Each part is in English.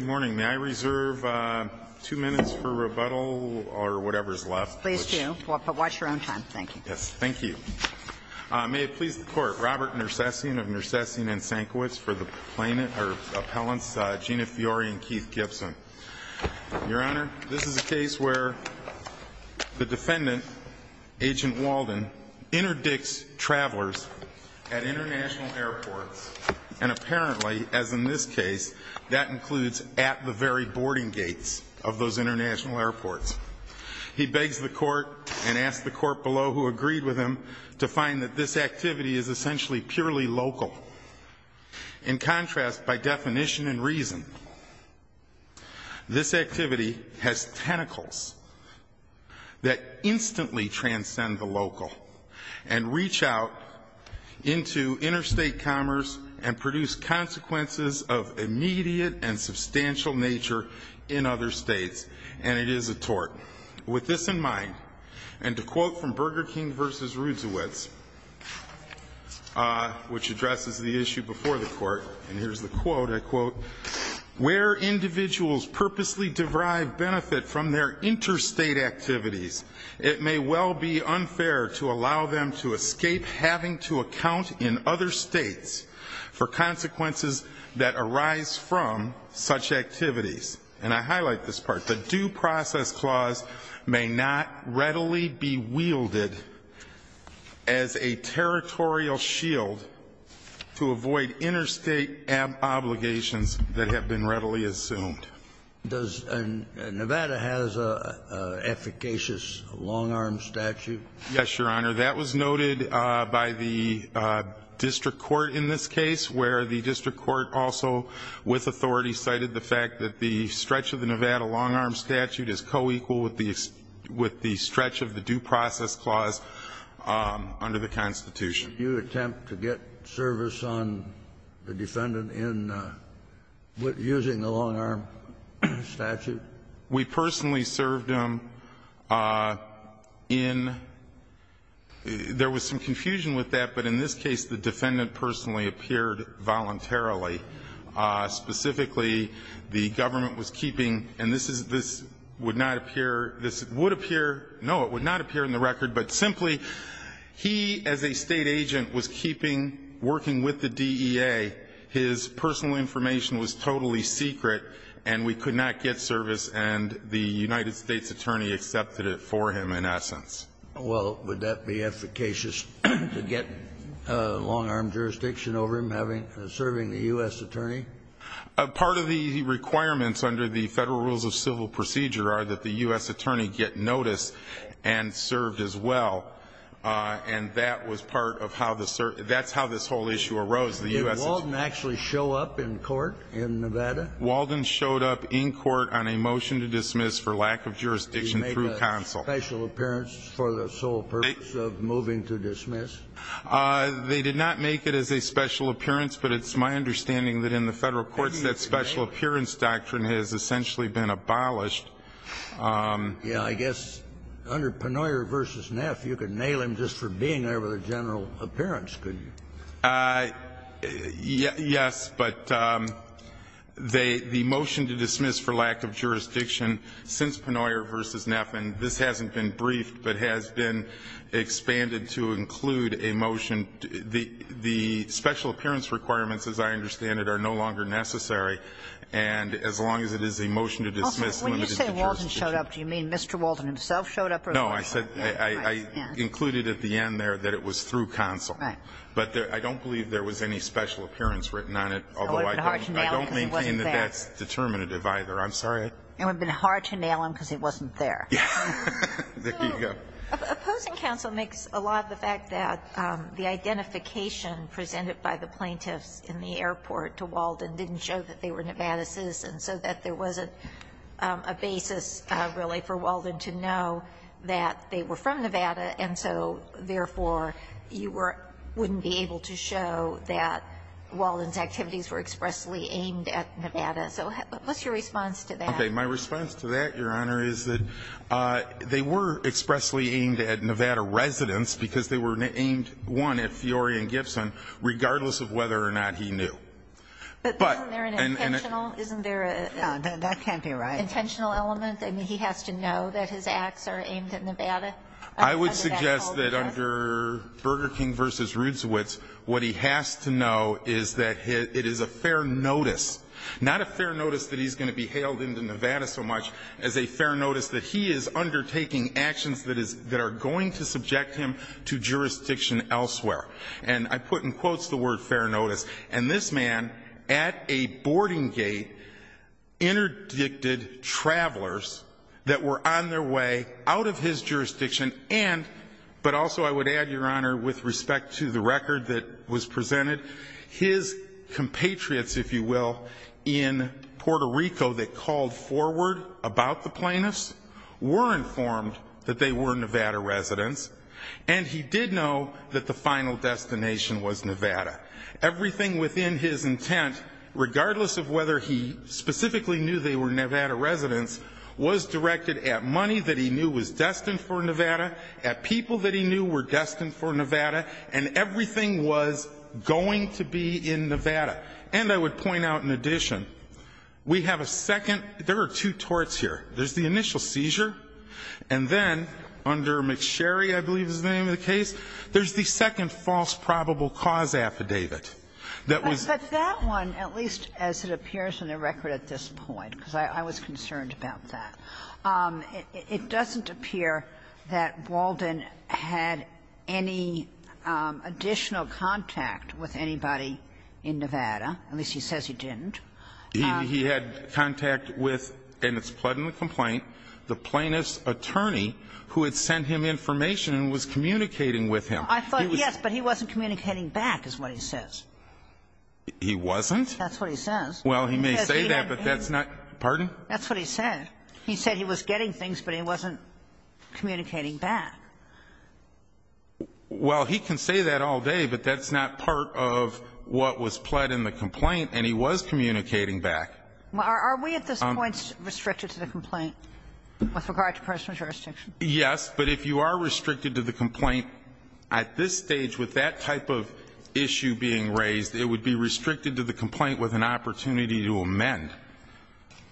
May I reserve two minutes for rebuttal or whatever's left? Please do, but watch your own time, thank you. Yes, thank you. May it please the Court, Robert Nersessian of Nersessian & Senkiewicz for the plaintiffs or appellants Gina Fiore and Keith Gibson. Your Honor, this is a case where the defendant, Agent Walden, interdicts travelers at international airports, and apparently, as in this case, that includes at the very boarding gates of those international airports. He begs the Court and asks the Court below who agreed with him to find that this activity is essentially purely local. In contrast, by definition and reason, this activity has tentacles that instantly transcend the local and reach out into interstate commerce and produce consequences of immediate and substantial nature in other states. And it is a tort. With this in mind, and to quote from Burger King v. Rudziewicz, which addresses the issue before the Court, and here's the quote, I quote, Where individuals purposely derive benefit from their interstate activities, it may well be unfair to allow them to escape having to account in other states for consequences that arise from such activities. And I highlight this part. The due process clause may not readily be wielded as a territorial shield to avoid interstate obligations that have been readily assumed. Does Nevada have an efficacious long-arm statute? Yes, Your Honor. That was noted by the district court in this case, where the district court also, with authority, cited the fact that the stretch of the Nevada long-arm statute is co-equal with the stretch of the due process clause under the Constitution. Did you attempt to get service on the defendant in using the long-arm statute? We personally served him in, there was some confusion with that, but in this case the defendant personally appeared voluntarily. Specifically, the government was keeping, and this would not appear, no, it would not appear in the record, but simply he as a state agent was keeping, working with the DEA. His personal information was totally secret, and we could not get service, and the United States attorney accepted it for him in essence. Well, would that be efficacious to get long-arm jurisdiction over him serving the U.S. attorney? Part of the requirements under the Federal Rules of Civil Procedure are that the U.S. attorney get notice and served as well. And that was part of how the, that's how this whole issue arose. Did Walden actually show up in court in Nevada? Walden showed up in court on a motion to dismiss for lack of jurisdiction through counsel. Did he make a special appearance for the sole purpose of moving to dismiss? They did not make it as a special appearance, but it's my understanding that in the Federal courts that special appearance doctrine has essentially been abolished. Yeah, I guess under Penoyer v. Neff you could nail him just for being there with a general appearance, couldn't you? Yes, but the motion to dismiss for lack of jurisdiction since Penoyer v. Neff, and this hasn't been briefed, but has been expanded to include a motion. The special appearance requirements, as I understand it, are no longer necessary, and as long as it is a motion to dismiss, limited to jurisdiction. When you say Walden showed up, do you mean Mr. Walden himself showed up? No, I said, I included at the end there that it was through counsel. But I don't believe there was any special appearance written on it, although I don't maintain that that's determinative either. I'm sorry. It would have been hard to nail him because he wasn't there. There you go. Opposing counsel makes a lot of the fact that the identification presented by the plaintiffs in the airport to Walden didn't show that they were Nevada citizens, so that there wasn't a basis really for Walden to know that they were from Nevada, and so, therefore, you were – wouldn't be able to show that Walden's activities were expressly aimed at Nevada. So what's your response to that? Okay. My response to that, Your Honor, is that they were expressly aimed at Nevada residents because they were aimed, one, at Fiori and Gibson, regardless of whether or not he knew. But isn't there an intentional? Isn't there an intentional element? I mean, he has to know that his acts are aimed at Nevada? I would suggest that under Burger King v. Rutzowitz, what he has to know is that it is a fair notice. Not a fair notice that he's going to be hailed into Nevada so much as a fair notice that he is undertaking actions that are going to subject him to jurisdiction elsewhere. And I put in quotes the word fair notice, and this man at a boarding gate interdicted travelers that were on their way out of his jurisdiction and – but also I would add, Your Honor, with respect to the record that was presented, his compatriots, if you will, in Puerto Rico that called forward about the plaintiffs were informed that they were Nevada residents, and he did know that the final destination was Nevada. Everything within his intent, regardless of whether he specifically knew they were Nevada residents, was directed at money that he knew was destined for Nevada, at people that he knew were destined for Nevada, and everything was going to be in Nevada. And I would point out in addition, we have a second – there are two torts here. There's the initial seizure, and then under McSherry, I believe is the name of the case, there's the second false probable cause affidavit that was – But that one, at least as it appears in the record at this point, because I was concerned about that. It doesn't appear that Walden had any additional contact with anybody in Nevada. At least he says he didn't. He had contact with, and it's pled in the complaint, the plaintiff's attorney who had sent him information and was communicating with him. I thought, yes, but he wasn't communicating back, is what he says. He wasn't? That's what he says. Well, he may say that, but that's not – pardon? That's what he said. He said he was getting things, but he wasn't communicating back. Well, he can say that all day, but that's not part of what was pled in the complaint, and he was communicating back. Are we at this point restricted to the complaint with regard to personal jurisdiction? Yes, but if you are restricted to the complaint at this stage with that type of issue being raised, it would be restricted to the complaint with an opportunity to amend.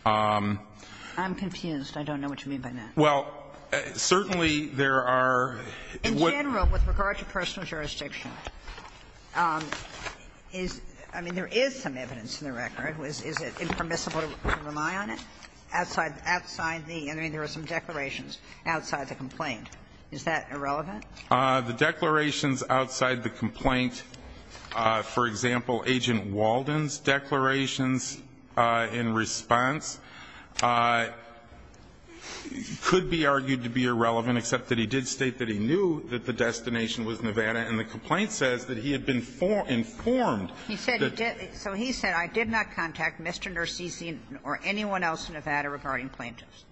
I'm confused. I don't know what you mean by that. Well, certainly there are – In general, with regard to personal jurisdiction, is – I mean, there is some evidence in the record. Is it impermissible to rely on it outside the – I mean, there are some declarations outside the complaint. Is that irrelevant? The declarations outside the complaint, for example, Agent Walden's declarations in response could be argued to be irrelevant, except that he did state that he knew that the destination was Nevada, and the complaint says that he had been informed that – So he said, I did not contact Mr. Narcisi or anyone else in Nevada regarding plaintiffs.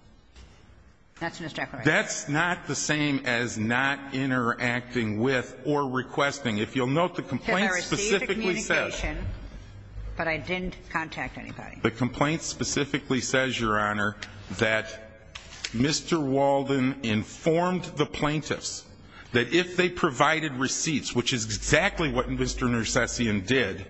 That's in his declaration. That's not the same as not interacting with or requesting. If you'll note, the complaint specifically says – Because I received communication, but I didn't contact anybody. The complaint specifically says, Your Honor, that Mr. Walden informed the plaintiffs that if they provided receipts, which is exactly what Mr. Narcisian did,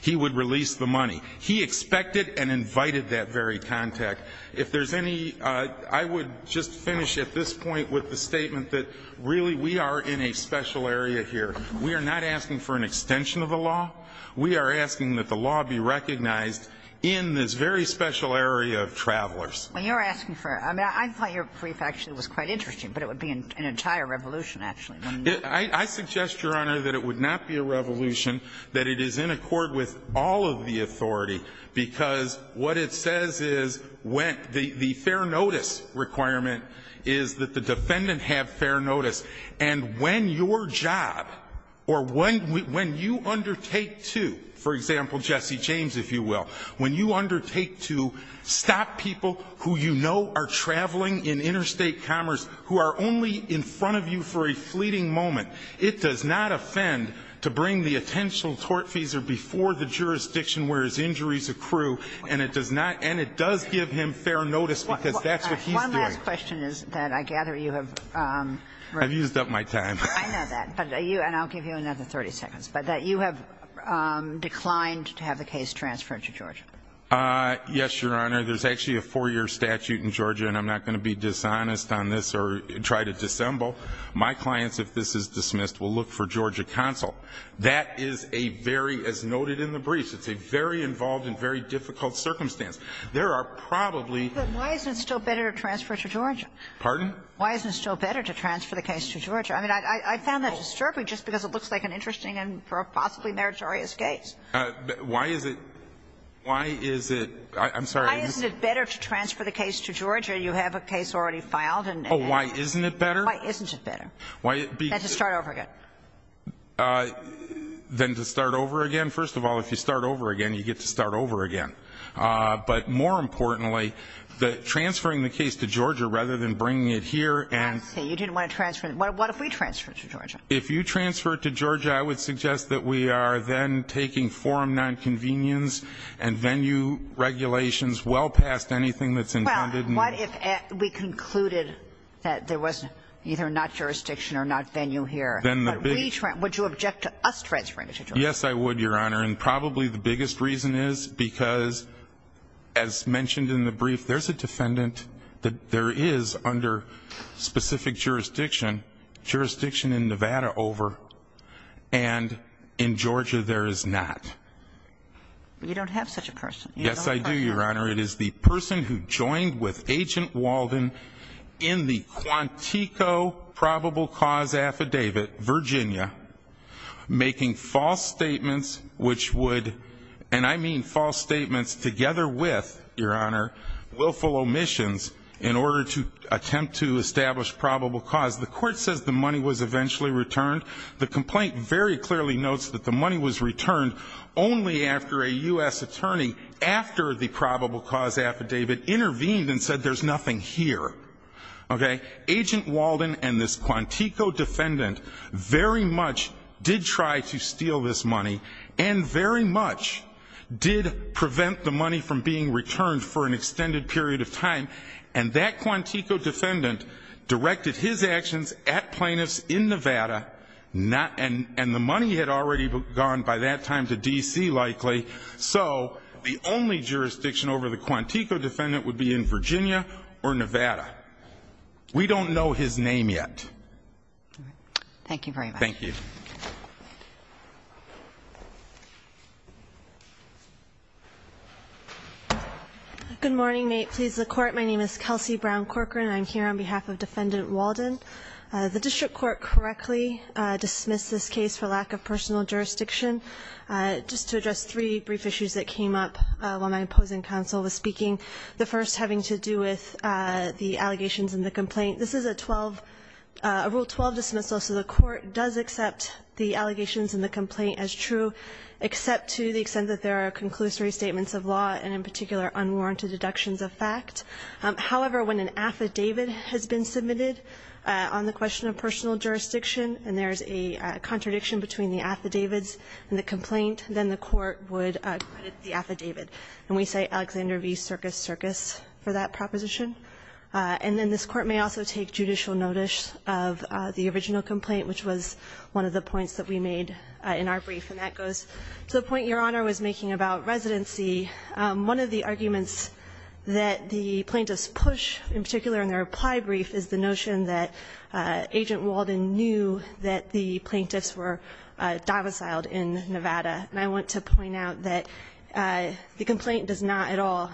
he would release the money. He expected and invited that very contact. If there's any – I would just finish at this point with the statement that, really, we are in a special area here. We are not asking for an extension of the law. We are asking that the law be recognized in this very special area of travelers. Well, you're asking for – I mean, I thought your brief actually was quite interesting, but it would be an entire revolution, actually. I suggest, Your Honor, that it would not be a revolution, that it is in accord with all of the authority, because what it says is – the fair notice requirement is that the defendant have fair notice. And when your job or when you undertake to – for example, Jesse James, if you will, when you undertake to stop people who you know are traveling in interstate commerce who are only in front of you for a fleeting moment, it does not offend to bring the potential tortfeasor before the jurisdiction where his injuries accrue. And it does not – and it does give him fair notice, because that's what he's doing. One last question is that I gather you have – I've used up my time. I know that. But are you – and I'll give you another 30 seconds. But that you have declined to have the case transferred to Georgia. Yes, Your Honor. There's actually a four-year statute in Georgia, and I'm not going to be dishonest on this or try to dissemble. My clients, if this is dismissed, will look for Georgia counsel. That is a very – as noted in the briefs, it's a very involved and very difficult circumstance. There are probably – But why isn't it still better to transfer it to Georgia? Pardon? Why isn't it still better to transfer the case to Georgia? I mean, I found that disturbing just because it looks like an interesting and possibly meritorious case. Why is it – why is it – I'm sorry. Why isn't it better to transfer the case to Georgia? You have a case already filed, and – Oh, why isn't it better? Why isn't it better? Why – Let's just start over again. Then to start over again? First of all, if you start over again, you get to start over again. But more importantly, transferring the case to Georgia rather than bringing it here and – I see. You didn't want to transfer it. What if we transfer it to Georgia? If you transfer it to Georgia, I would suggest that we are then taking forum nonconvenience and venue regulations well past anything that's intended. Well, what if we concluded that there was either not jurisdiction or not venue here but we – would you object to us transferring it to Georgia? Yes, I would, Your Honor. And probably the biggest reason is because, as mentioned in the brief, there's a defendant that there is under specific jurisdiction, jurisdiction in Nevada over, and in Georgia there is not. But you don't have such a person. Yes, I do, Your Honor. It is the person who joined with Agent Walden in the Quantico probable cause affidavit, Virginia, making false statements which would – and I mean false statements together with, Your Honor, willful omissions in order to attempt to establish probable cause. The court says the money was eventually returned. The complaint very clearly notes that the money was returned only after a U.S. attorney, after the probable cause affidavit, intervened and said there's nothing here. Okay? Agent Walden and this Quantico defendant very much did try to steal this money and very much did prevent the money from being returned for an extended period of time, and that Quantico defendant directed his actions at plaintiffs in Nevada, and the money had already gone by that time to D.C. likely, so the only jurisdiction over the Quantico defendant would be in Virginia or Nevada. We don't know his name yet. Thank you very much. Thank you. Good morning. May it please the Court. My name is Kelsey Brown Corcoran. I'm here on behalf of Defendant Walden. The district court correctly dismissed this case for lack of personal jurisdiction. Just to address three brief issues that came up while my opposing counsel was speaking. The first having to do with the allegations in the complaint. This is a Rule 12 dismissal, so the court does accept the allegations in the complaint as true, except to the extent that there are conclusory statements of law and in particular unwarranted deductions of fact. However, when an affidavit has been submitted on the question of personal jurisdiction and there is a contradiction between the affidavits and the complaint, then the court would acquit the affidavit. And we cite Alexander v. Circus Circus for that proposition. And then this Court may also take judicial notice of the original complaint, which was one of the points that we made in our brief. And that goes to the point Your Honor was making about residency. One of the arguments that the plaintiffs push, in particular in their reply brief, is the notion that Agent Walden knew that the plaintiffs were domiciled in Nevada. And I want to point out that the complaint does not at all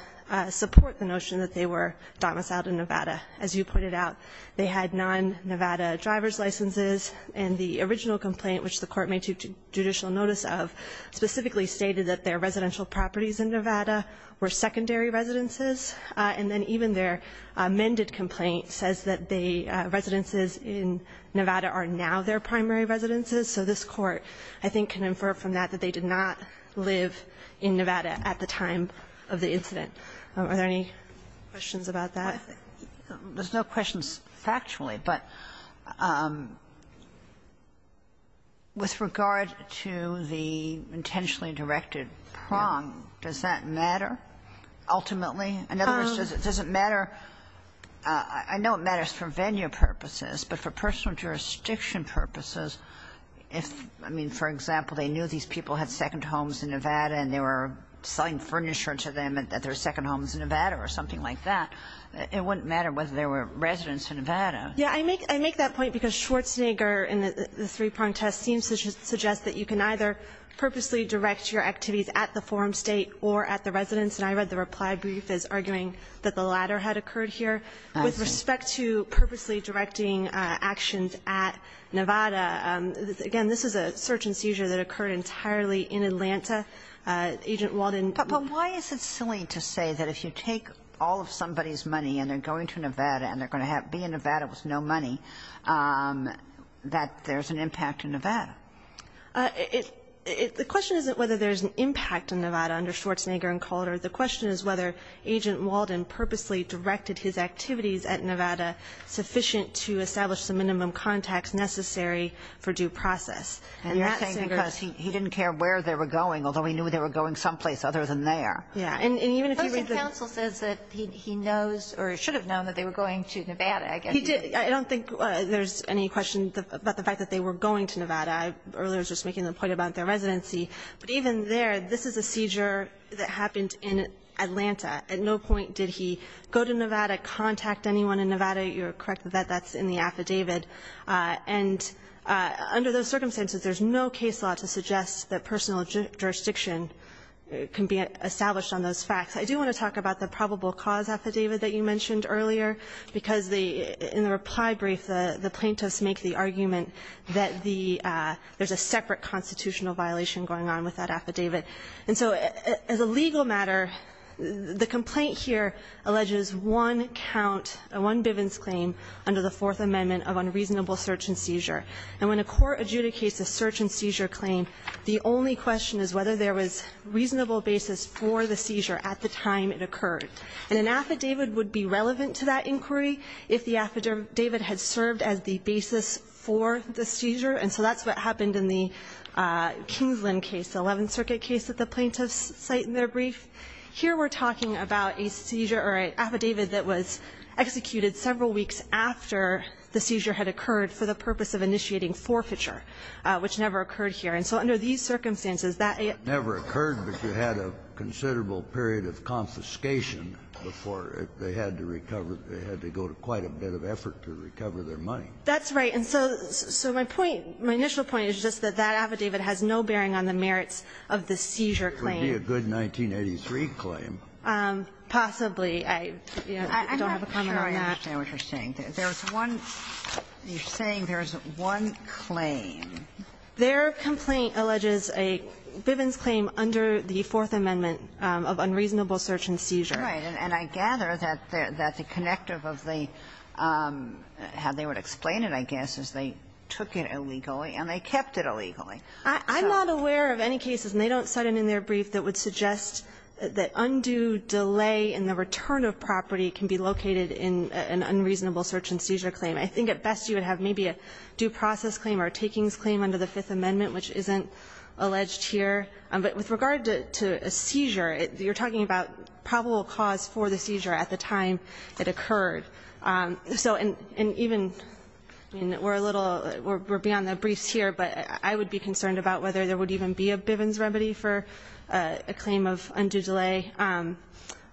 support the notion that they were domiciled in Nevada. As you pointed out, they had non-Nevada driver's licenses. And the original complaint, which the court may take judicial notice of, specifically stated that their residential properties in Nevada were secondary residences. And then even their amended complaint says that the residences in Nevada are now their primary residences. So this Court, I think, can infer from that that they did not live in Nevada at the time of the incident. Are there any questions about that? Ginsburg. There's no questions factually, but with regard to the intentionally directed three-prong, does that matter ultimately? In other words, does it matter? I know it matters for venue purposes, but for personal jurisdiction purposes, if, I mean, for example, they knew these people had second homes in Nevada and they were selling furniture to them and that their second home was in Nevada or something like that, it wouldn't matter whether they were residents of Nevada. Yeah. I make that point because Schwarzenegger in the three-prong test seems to suggest that you can either purposely direct your activities at the forum state or at the residence. And I read the reply brief as arguing that the latter had occurred here. I see. With respect to purposely directing actions at Nevada, again, this is a search and seizure that occurred entirely in Atlanta. Agent Walden. But why is it silly to say that if you take all of somebody's money and they're going to Nevada and they're going to be in Nevada with no money, that there's an impact in Nevada? The question isn't whether there's an impact in Nevada under Schwarzenegger and Calder. The question is whether Agent Walden purposely directed his activities at Nevada sufficient to establish the minimum contacts necessary for due process. And you're saying because he didn't care where they were going, although he knew they were going someplace other than there. Yeah. And even if he read the ---- Schwarzenegger's counsel says that he knows or should have known that they were going to Nevada. He did. I don't think there's any question about the fact that they were going to Nevada. I earlier was just making the point about their residency. But even there, this is a seizure that happened in Atlanta. At no point did he go to Nevada, contact anyone in Nevada. You're correct that that's in the affidavit. And under those circumstances, there's no case law to suggest that personal jurisdiction can be established on those facts. I do want to talk about the probable cause affidavit that you mentioned earlier, because the ---- in the reply brief, the plaintiffs make the argument that the ---- there's a separate constitutional violation going on with that affidavit. And so as a legal matter, the complaint here alleges one count, one Bivens claim under the Fourth Amendment of unreasonable search and seizure. And when a court adjudicates a search and seizure claim, the only question is whether there was reasonable basis for the seizure at the time it occurred. And an affidavit would be relevant to that inquiry if the affidavit had served as the basis for the seizure. And so that's what happened in the Kingsland case, the Eleventh Circuit case that the plaintiffs cite in their brief. Here we're talking about a seizure or an affidavit that was executed several weeks after the seizure had occurred for the purpose of initiating forfeiture, which never occurred here. And so under these circumstances, that ---- It never occurred, but you had a considerable period of confiscation before they had to recover. They had to go to quite a bit of effort to recover their money. That's right. And so my point, my initial point is just that that affidavit has no bearing on the merits of the seizure claim. It would be a good 1983 claim. Possibly. I don't have a comment on that. I'm not sure I understand what you're saying. There's one ---- you're saying there's one claim. Their complaint alleges a Bivens claim under the Fourth Amendment of unreasonable search and seizure. Right. And I gather that the connective of the ---- how they would explain it, I guess, is they took it illegally and they kept it illegally. I'm not aware of any cases, and they don't cite it in their brief, that would suggest that undue delay in the return of property can be located in an unreasonable search and seizure claim. I think at best you would have maybe a due process claim or a takings claim under the Fifth Amendment, which isn't alleged here. But with regard to a seizure, you're talking about probable cause for the seizure at the time it occurred. So, and even, I mean, we're a little, we're beyond the briefs here, but I would be concerned about whether there would even be a Bivens remedy for a claim of undue delay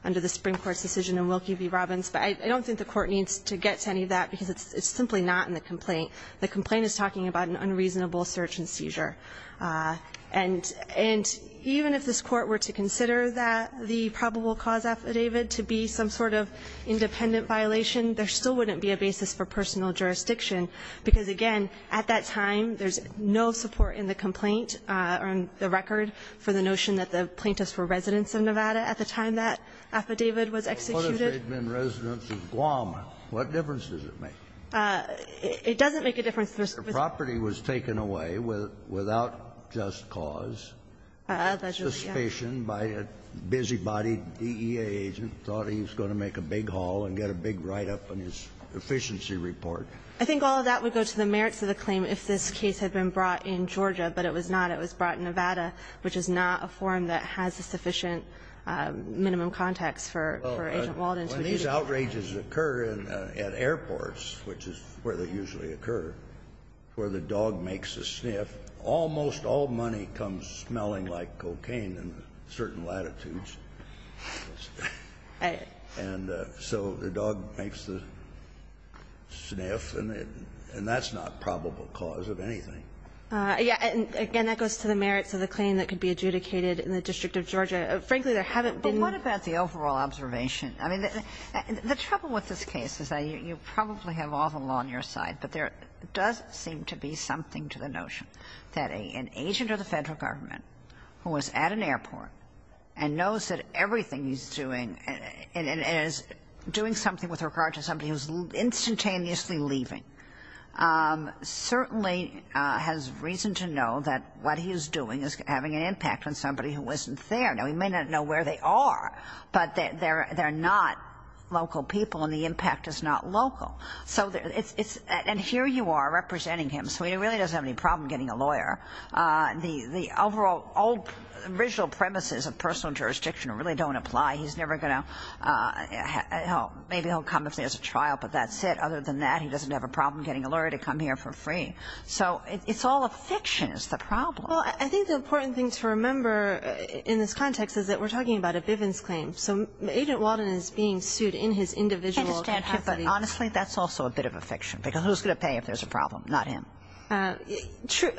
under the Supreme Court's decision in Wilkie v. Robbins. But I don't think the Court needs to get to any of that, because it's simply not in the complaint. The complaint is talking about an unreasonable search and seizure. And even if this Court were to consider that the probable cause affidavit to be some sort of independent violation, there still wouldn't be a basis for personal jurisdiction, because, again, at that time, there's no support in the complaint or in the record for the notion that the plaintiffs were residents of Nevada at the time that affidavit was executed. Kennedy, what if they had been residents of Guam? What difference does it make? It doesn't make a difference. If the property was taken away without just cause, what suspicion by a busy-bodied DEA agent thought he was going to make a big haul and get a big write-up on his efficiency report? I think all of that would go to the merits of the claim if this case had been brought in Georgia, but it was not. It was brought in Nevada, which is not a form that has a sufficient minimum context for Asian Americans. When these outrages occur at airports, which is where they usually occur, where the dog makes a sniff, almost all money comes smelling like cocaine in certain latitudes. And so the dog makes the sniff, and that's not probable cause of anything. Yeah. And, again, that goes to the merits of the claim that could be adjudicated in the District of Georgia. Frankly, there haven't been. But what about the overall observation? I mean, the trouble with this case is that you probably have all the law on your side, but there does seem to be something to the notion that an agent of the Federal Government who was at an airport and knows that everything he's doing and is doing something with regard to somebody who's instantaneously leaving certainly has reason to know that what he is doing is having an impact on somebody who wasn't there. Now, he may not know where they are, but there are no signs of them being there. They're not local people, and the impact is not local. So it's – and here you are representing him, so he really doesn't have any problem getting a lawyer. The overall original premises of personal jurisdiction really don't apply. He's never going to – maybe he'll come if there's a trial, but that's it. Other than that, he doesn't have a problem getting a lawyer to come here for free. So it's all a fiction is the problem. Well, I think the important thing to remember in this context is that we're talking about a Bivens claim. So Agent Walden is being sued in his individual capacity. I understand. But honestly, that's also a bit of a fiction, because who's going to pay if there's a problem? Not him. True.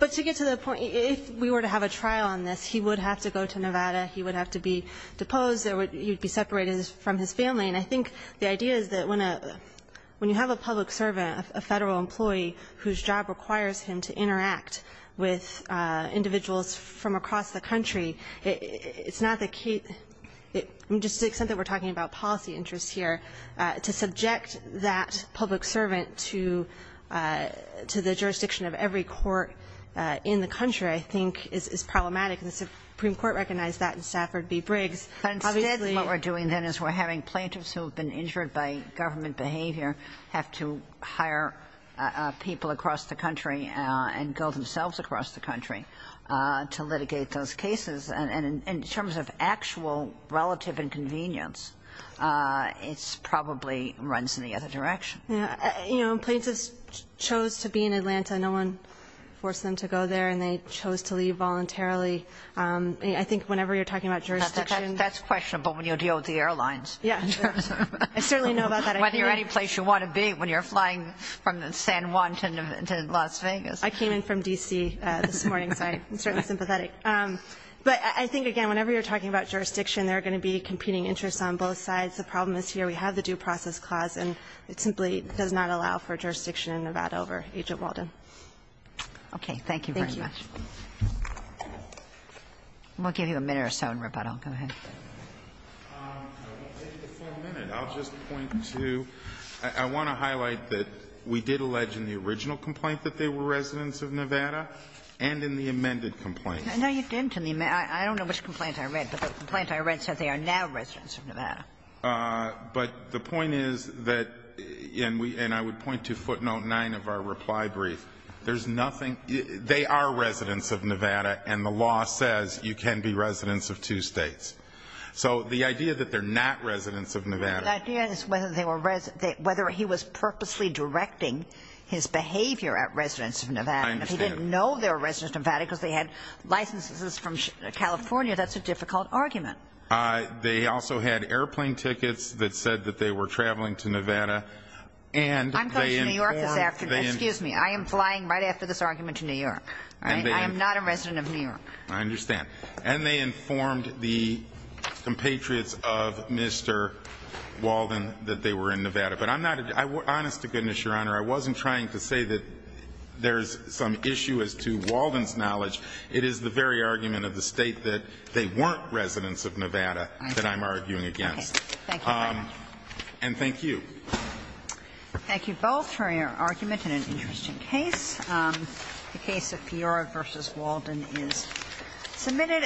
But to get to the point, if we were to have a trial on this, he would have to go to Nevada. He would have to be deposed. He would be separated from his family. And I think the idea is that when you have a public servant, a Federal employee whose job requires him to interact with individuals from across the country, it's not the case – just to the extent that we're talking about policy interests here, to subject that public servant to the jurisdiction of every court in the country, I think, is problematic. And the Supreme Court recognized that in Stafford v. Briggs. But instead, what we're doing then is we're having plaintiffs who have been injured by government behavior have to hire people across the country and go themselves across the country to litigate those cases. And in terms of actual relative inconvenience, it probably runs in the other direction. Yeah. You know, plaintiffs chose to be in Atlanta. No one forced them to go there. And they chose to leave voluntarily. I think whenever you're talking about jurisdiction – That's questionable when you're dealing with the airlines. Yeah. I certainly know about that. I came – Whether you're any place you want to be when you're flying from San Juan to Las Vegas. I came in from D.C. this morning, so I'm certainly sympathetic. But I think, again, whenever you're talking about jurisdiction, there are going to be competing interests on both sides. The problem is here we have the due process clause, and it simply does not allow for jurisdiction in Nevada over Agent Walden. Okay. Thank you very much. Thank you. We'll give you a minute or so in rebuttal. Go ahead. I won't take the full minute. I'll just point to – I want to highlight that we did allege in the original complaint that they were residents of Nevada and in the amended complaint. No, you didn't in the – I don't know which complaint I read, but the complaint I read said they are now residents of Nevada. But the point is that – and I would point to footnote 9 of our reply brief. There's nothing – they are residents of Nevada, and the law says you can be residents of two states. So the idea that they're not residents of Nevada – The idea is whether they were – whether he was purposely directing his behavior at residents of Nevada. I understand. He didn't know they were residents of Nevada because they had licenses from California. That's a difficult argument. They also had airplane tickets that said that they were traveling to Nevada. And they informed – I'm going to New York this afternoon. Excuse me. I am flying right after this argument to New York. All right? I am not a resident of New York. I understand. And they informed the compatriots of Mr. Walden that they were in Nevada. But I'm not – honest to goodness, Your Honor, I wasn't trying to say that there's some issue as to Walden's knowledge. It is the very argument of the State that they weren't residents of Nevada that I'm arguing against. Thank you. And thank you. Thank you both for your argument in an interesting case. The case of Fiora v. Walden is submitted.